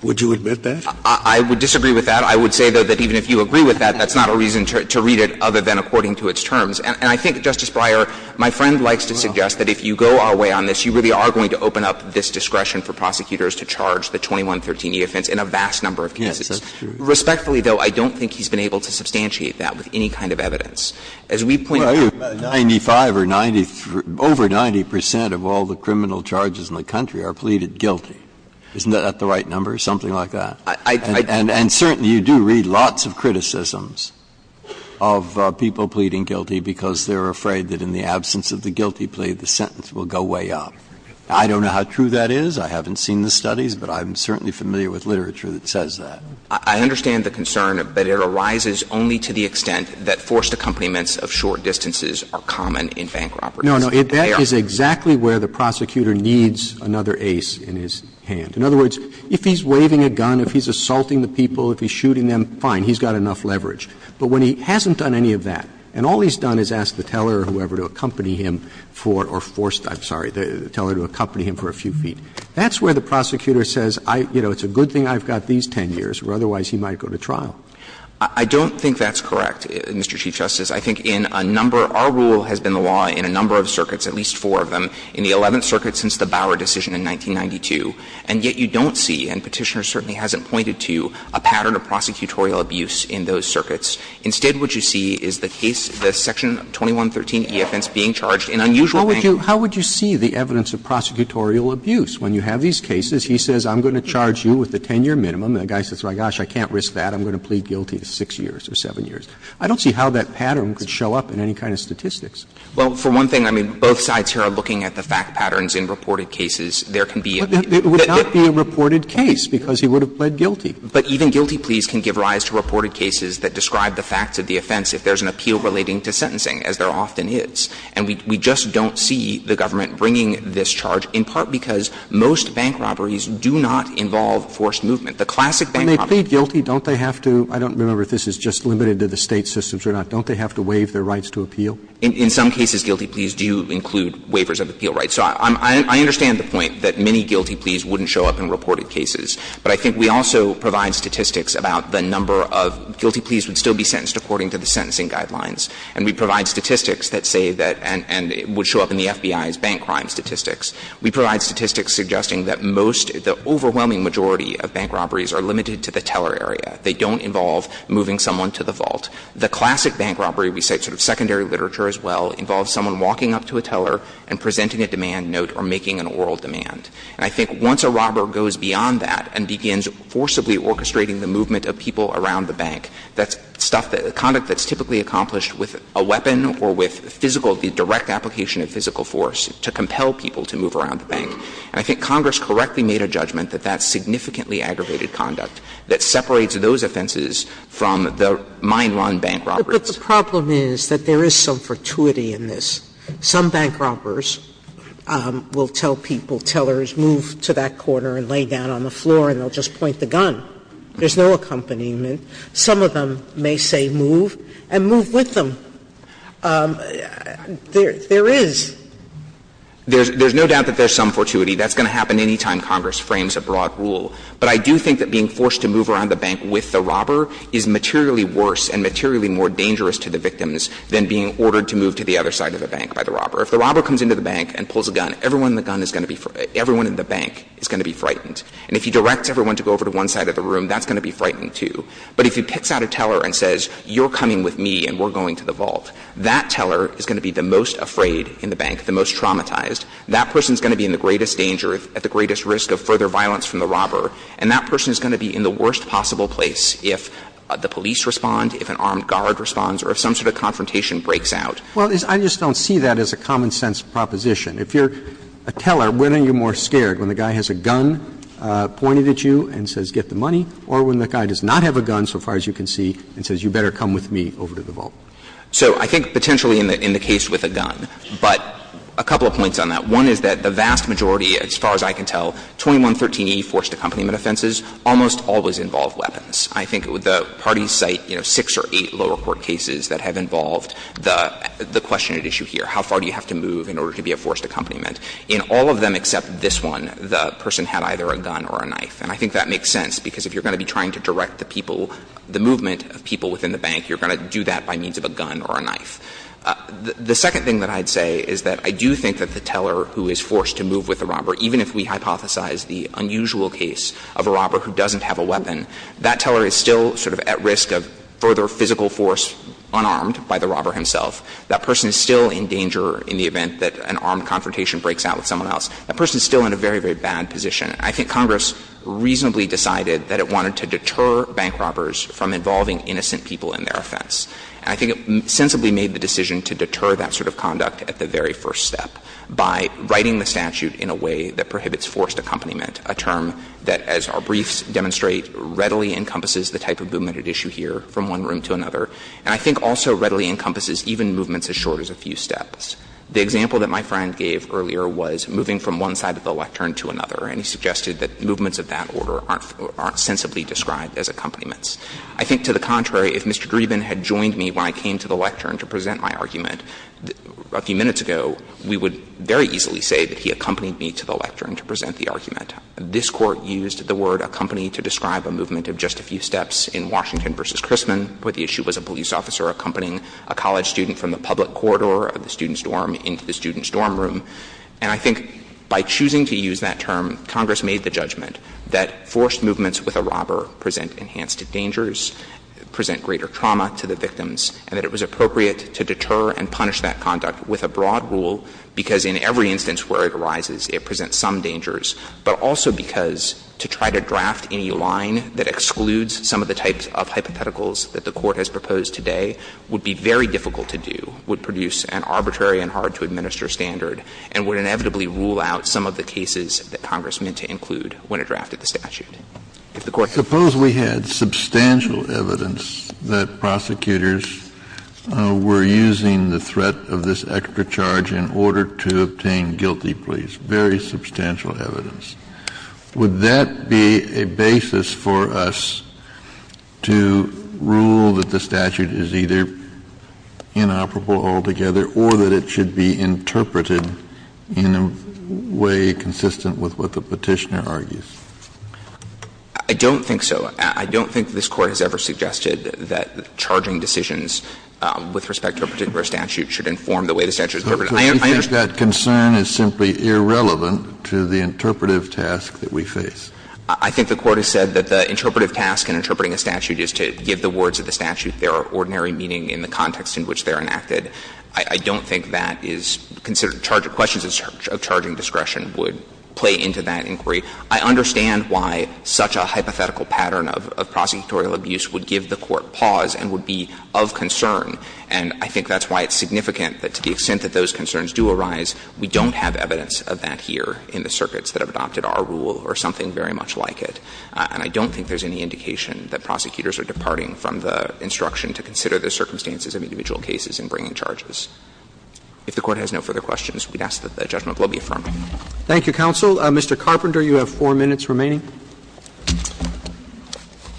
Would you admit that? I would disagree with that. I would say, though, that even if you agree with that, that's not a reason to read it other than according to its terms. And I think, Justice Breyer, my friend likes to suggest that if you go our way on this, you really are going to open up this discretion for prosecutors to charge the 2113 E offense in a vast number of cases. Yes, that's true. Respectfully, though, I don't think he's been able to substantiate that with any kind of evidence. As we pointed out to you earlier, 95 or 90 – over 90 percent of all the criminal charges in the country are pleaded guilty. Isn't that the right number, something like that? I don't know. And certainly you do read lots of criticisms of people pleading guilty because they're afraid that in the absence of the guilty plea, the sentence will go way up. I don't know how true that is. I haven't seen the studies, but I'm certainly familiar with literature that says that. I understand the concern, but it arises only to the extent that forced accompaniments of short distances are common in bank robberies. No, no. That is exactly where the prosecutor needs another ace in his hand. In other words, if he's waving a gun, if he's assaulting the people, if he's shooting them, fine, he's got enough leverage. But when he hasn't done any of that, and all he's done is ask the teller or whoever to accompany him for – or forced, I'm sorry, the teller to accompany him for a few feet, that's where the prosecutor says, you know, it's a good thing I've got these 10 years, or otherwise he might go to trial. I don't think that's correct, Mr. Chief Justice. I think in a number – our rule has been the law in a number of circuits, at least four of them, in the Eleventh Circuit since the Bauer decision in 1992, and yet you don't see, and Petitioner certainly hasn't pointed to, a pattern of prosecutorial abuse in those circuits. Instead, what you see is the case, the Section 2113 EFNs being charged in unusual manner. Roberts. How would you see the evidence of prosecutorial abuse? When you have these cases, he says, I'm going to charge you with a 10-year minimum. The guy says, oh, my gosh, I can't risk that. I'm going to plead guilty to 6 years or 7 years. I don't see how that pattern could show up in any kind of statistics. Well, for one thing, I mean, both sides here are looking at the fact patterns in reported cases. There can be a – But that would not be a reported case, because he would have pled guilty. But even guilty pleas can give rise to reported cases that describe the facts of the offense if there's an appeal relating to sentencing, as there often is. And we just don't see the government bringing this charge, in part because most bank robberies do not involve forced movement. The classic bank robbery— When they plead guilty, don't they have to – I don't remember if this is just limited to the State systems or not – don't they have to waive their rights to appeal? In some cases, guilty pleas do include waivers of appeal rights. So I understand the point that many guilty pleas wouldn't show up in reported cases. But I think we also provide statistics about the number of guilty pleas would still be sentenced according to the sentencing guidelines. And we provide statistics that say that – and would show up in the FBI's bank crime statistics. We provide statistics suggesting that most – the overwhelming majority of bank robberies are limited to the teller area. They don't involve moving someone to the vault. The classic bank robbery, we cite sort of secondary literature as well, involves someone walking up to a teller and presenting a demand note or making an oral demand. And I think once a robber goes beyond that and begins forcibly orchestrating the movement of people around the bank, that's stuff that – conduct that's typically accomplished with a weapon or with physical – the direct application of physical force to compel people to move around the bank. And I think Congress correctly made a judgment that that's significantly aggravated conduct that separates those offenses from the mine run bank robberies. Sotomayor, but the problem is that there is some fortuity in this. Some bank robbers will tell people, tellers, move to that corner and lay down on the floor and they'll just point the gun. There's no accompaniment. Some of them may say move and move with them. There is. There's no doubt that there's some fortuity. That's going to happen any time Congress frames a broad rule. But I do think that being forced to move around the bank with the robber is materially worse and materially more dangerous to the victims than being ordered to move to the other side of the bank by the robber. If the robber comes into the bank and pulls a gun, everyone in the gun is going to be – everyone in the bank is going to be frightened. And if he directs everyone to go over to one side of the room, that's going to be frightening, too. But if he picks out a teller and says, you're coming with me and we're going to the vault, that teller is going to be the most afraid in the bank, the most traumatized. That person is going to be in the greatest danger, at the greatest risk of further violence from the robber, and that person is going to be in the worst possible place if the police respond, if an armed guard responds, or if some sort of confrontation breaks out. Roberts. Well, I just don't see that as a common-sense proposition. If you're a teller, when are you more scared? When the guy has a gun pointed at you and says, get the money? Or when the guy does not have a gun, so far as you can see, and says, you better come with me over to the vault? So I think potentially in the case with a gun, but a couple of points on that. One is that the vast majority, as far as I can tell, 2113e forced accompaniment offenses almost always involve weapons. I think the parties cite, you know, six or eight lower court cases that have involved the question at issue here, how far do you have to move in order to be a forced accompaniment. In all of them except this one, the person had either a gun or a knife. And I think that makes sense, because if you're going to be trying to direct the people, the movement of people within the bank, you're going to do that by means of a gun or a knife. The second thing that I'd say is that I do think that the teller who is forced to move with the robber, even if we hypothesize the unusual case of a robber who doesn't have a weapon, that teller is still sort of at risk of further physical force unarmed by the robber himself. That person is still in danger in the event that an armed confrontation breaks out with someone else. That person is still in a very, very bad position. I think Congress reasonably decided that it wanted to deter bank robbers from involving innocent people in their offense. And I think it sensibly made the decision to deter that sort of conduct at the very first step by writing the statute in a way that prohibits forced accompaniment, a term that, as our briefs demonstrate, readily encompasses the type of movement at issue here from one room to another, and I think also readily encompasses even movements as short as a few steps. The example that my friend gave earlier was moving from one side of the lectern to another, and he suggested that movements of that order aren't sensibly described as accompaniments. I think, to the contrary, if Mr. Dreeben had joined me when I came to the lectern to present my argument a few minutes ago, we would very easily say that he accompanied me to the lectern to present the argument. This Court used the word accompanied to describe a movement of just a few steps in Washington v. Chrisman, where the issue was a police officer accompanying a college student from the public corridor of the student's dorm into the student's dorm room. And I think by choosing to use that term, Congress made the judgment that forced movements with a robber present enhanced dangers, present greater trauma to the victims, and that it was appropriate to deter and punish that conduct with a broad rule, because in every instance where it arises, it presents some dangers, but also because to try to draft any line that excludes some of the types of hypotheticals that the Court has proposed today would be very difficult to do, would produce an arbitrary and hard-to-administer standard, and would inevitably rule out some of the cases that Congress meant to include when it drafted the statute. If the Court had to do that, it would be very difficult to do, and it would be a very Kennedy, you said earlier that the statute is not using the threat of this extra charge in order to obtain guilty pleas, very substantial evidence. Would that be a basis for us to rule that the statute is either inoperable altogether or that it should be interpreted in a way consistent with what the Petitioner argues? I don't think so. I don't think this Court has ever suggested that charging decisions with respect to a particular statute should inform the way the statute is interpreted. I understand. Kennedy, that concern is simply irrelevant to the interpretive task that we face. I think the Court has said that the interpretive task in interpreting a statute is to give the words of the statute their ordinary meaning in the context in which they are enacted. I don't think that is considered a charge. Questions of charging discretion would play into that inquiry. I understand why such a hypothetical pattern of prosecutorial abuse would give the Court pause and would be of concern, and I think that's why it's significant that to the extent that those concerns do arise, we don't have evidence of that here in the circuits that have adopted our rule or something very much like it. And I don't think there's any indication that prosecutors are departing from the instruction to consider the circumstances of individual cases in bringing charges. If the Court has no further questions, we'd ask that the judgment be affirmed. Roberts. Thank you, counsel. Mr. Carpenter, you have four minutes remaining.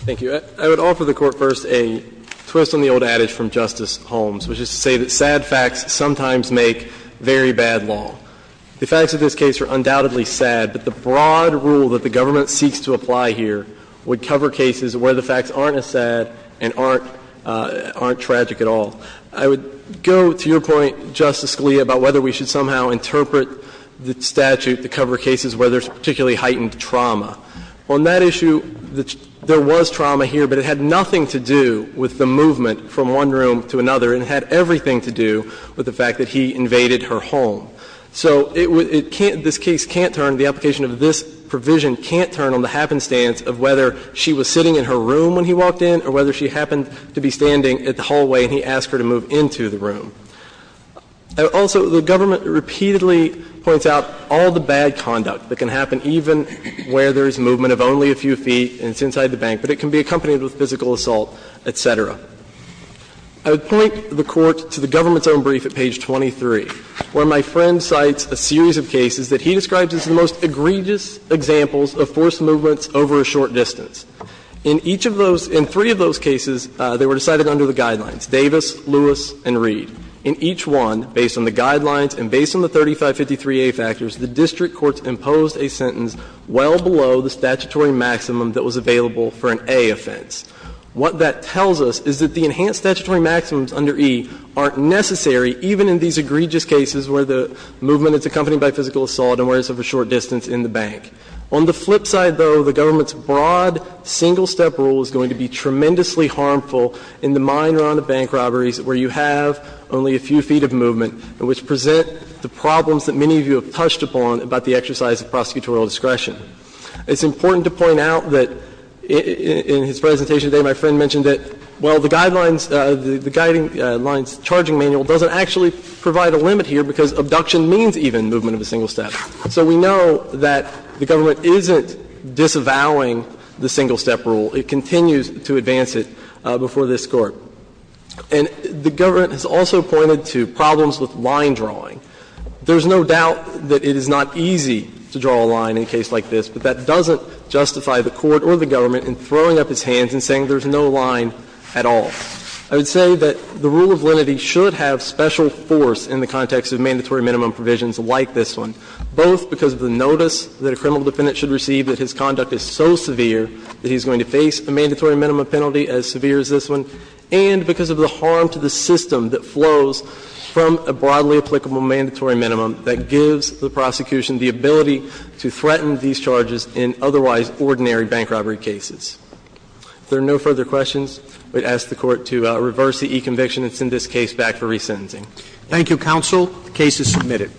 Thank you. I would offer the Court first a twist on the old adage from Justice Holmes, which is to say that sad facts sometimes make very bad law. The facts of this case are undoubtedly sad, but the broad rule that the government seeks to apply here would cover cases where the facts aren't as sad and aren't tragic at all. I would go to your point, Justice Scalia, about whether we should somehow interpret the statute to cover cases where there's particularly heightened trauma. On that issue, there was trauma here, but it had nothing to do with the movement from one room to another, and it had everything to do with the fact that he invaded her home. So it can't – this case can't turn – the application of this provision can't turn on the happenstance of whether she was sitting in her room when he walked in or whether she happened to be standing at the hallway and he asked her to move into the room. Also, the government repeatedly points out all the bad conduct that can happen even where there is movement of only a few feet and it's inside the bank, but it can be accompanied with physical assault, et cetera. I would point the Court to the government's own brief at page 23, where my friend cites a series of cases that he describes as the most egregious examples of forced movements over a short distance. In each of those – in three of those cases, they were decided under the guidelines, Davis, Lewis, and Reed. In each one, based on the guidelines and based on the 3553a factors, the district courts imposed a sentence well below the statutory maximum that was available for an A offense. What that tells us is that the enhanced statutory maximums under E aren't necessary even in these egregious cases where the movement is accompanied by physical assault and where it's over a short distance in the bank. On the flip side, though, the government's broad single-step rule is going to be tremendously harmful in the minor on-the-bank robberies where you have only a few feet of movement and which present the problems that many of you have touched upon about the exercise of prosecutorial discretion. It's important to point out that in his presentation today, my friend mentioned that, well, the guidelines – the Guidelines Charging Manual doesn't actually provide a limit here because abduction means even movement of a single step. So we know that the government isn't disavowing the single-step rule. It continues to advance it before this Court. And the government has also pointed to problems with line drawing. There's no doubt that it is not easy to draw a line in a case like this, but that doesn't justify the Court or the government in throwing up its hands and saying there's no line at all. I would say that the rule of lenity should have special force in the context of mandatory minimum provisions like this one, both because of the notice that a criminal defendant should receive if his conduct is so severe that he's going to face a mandatory minimum penalty as severe as this one, and because of the harm to the system that flows from a broadly applicable mandatory minimum that gives the prosecution the ability to threaten these charges in otherwise ordinary bank robbery cases. If there are no further questions, I would ask the Court to reverse the e-conviction and send this case back for resentencing. Thank you, counsel. The case is submitted.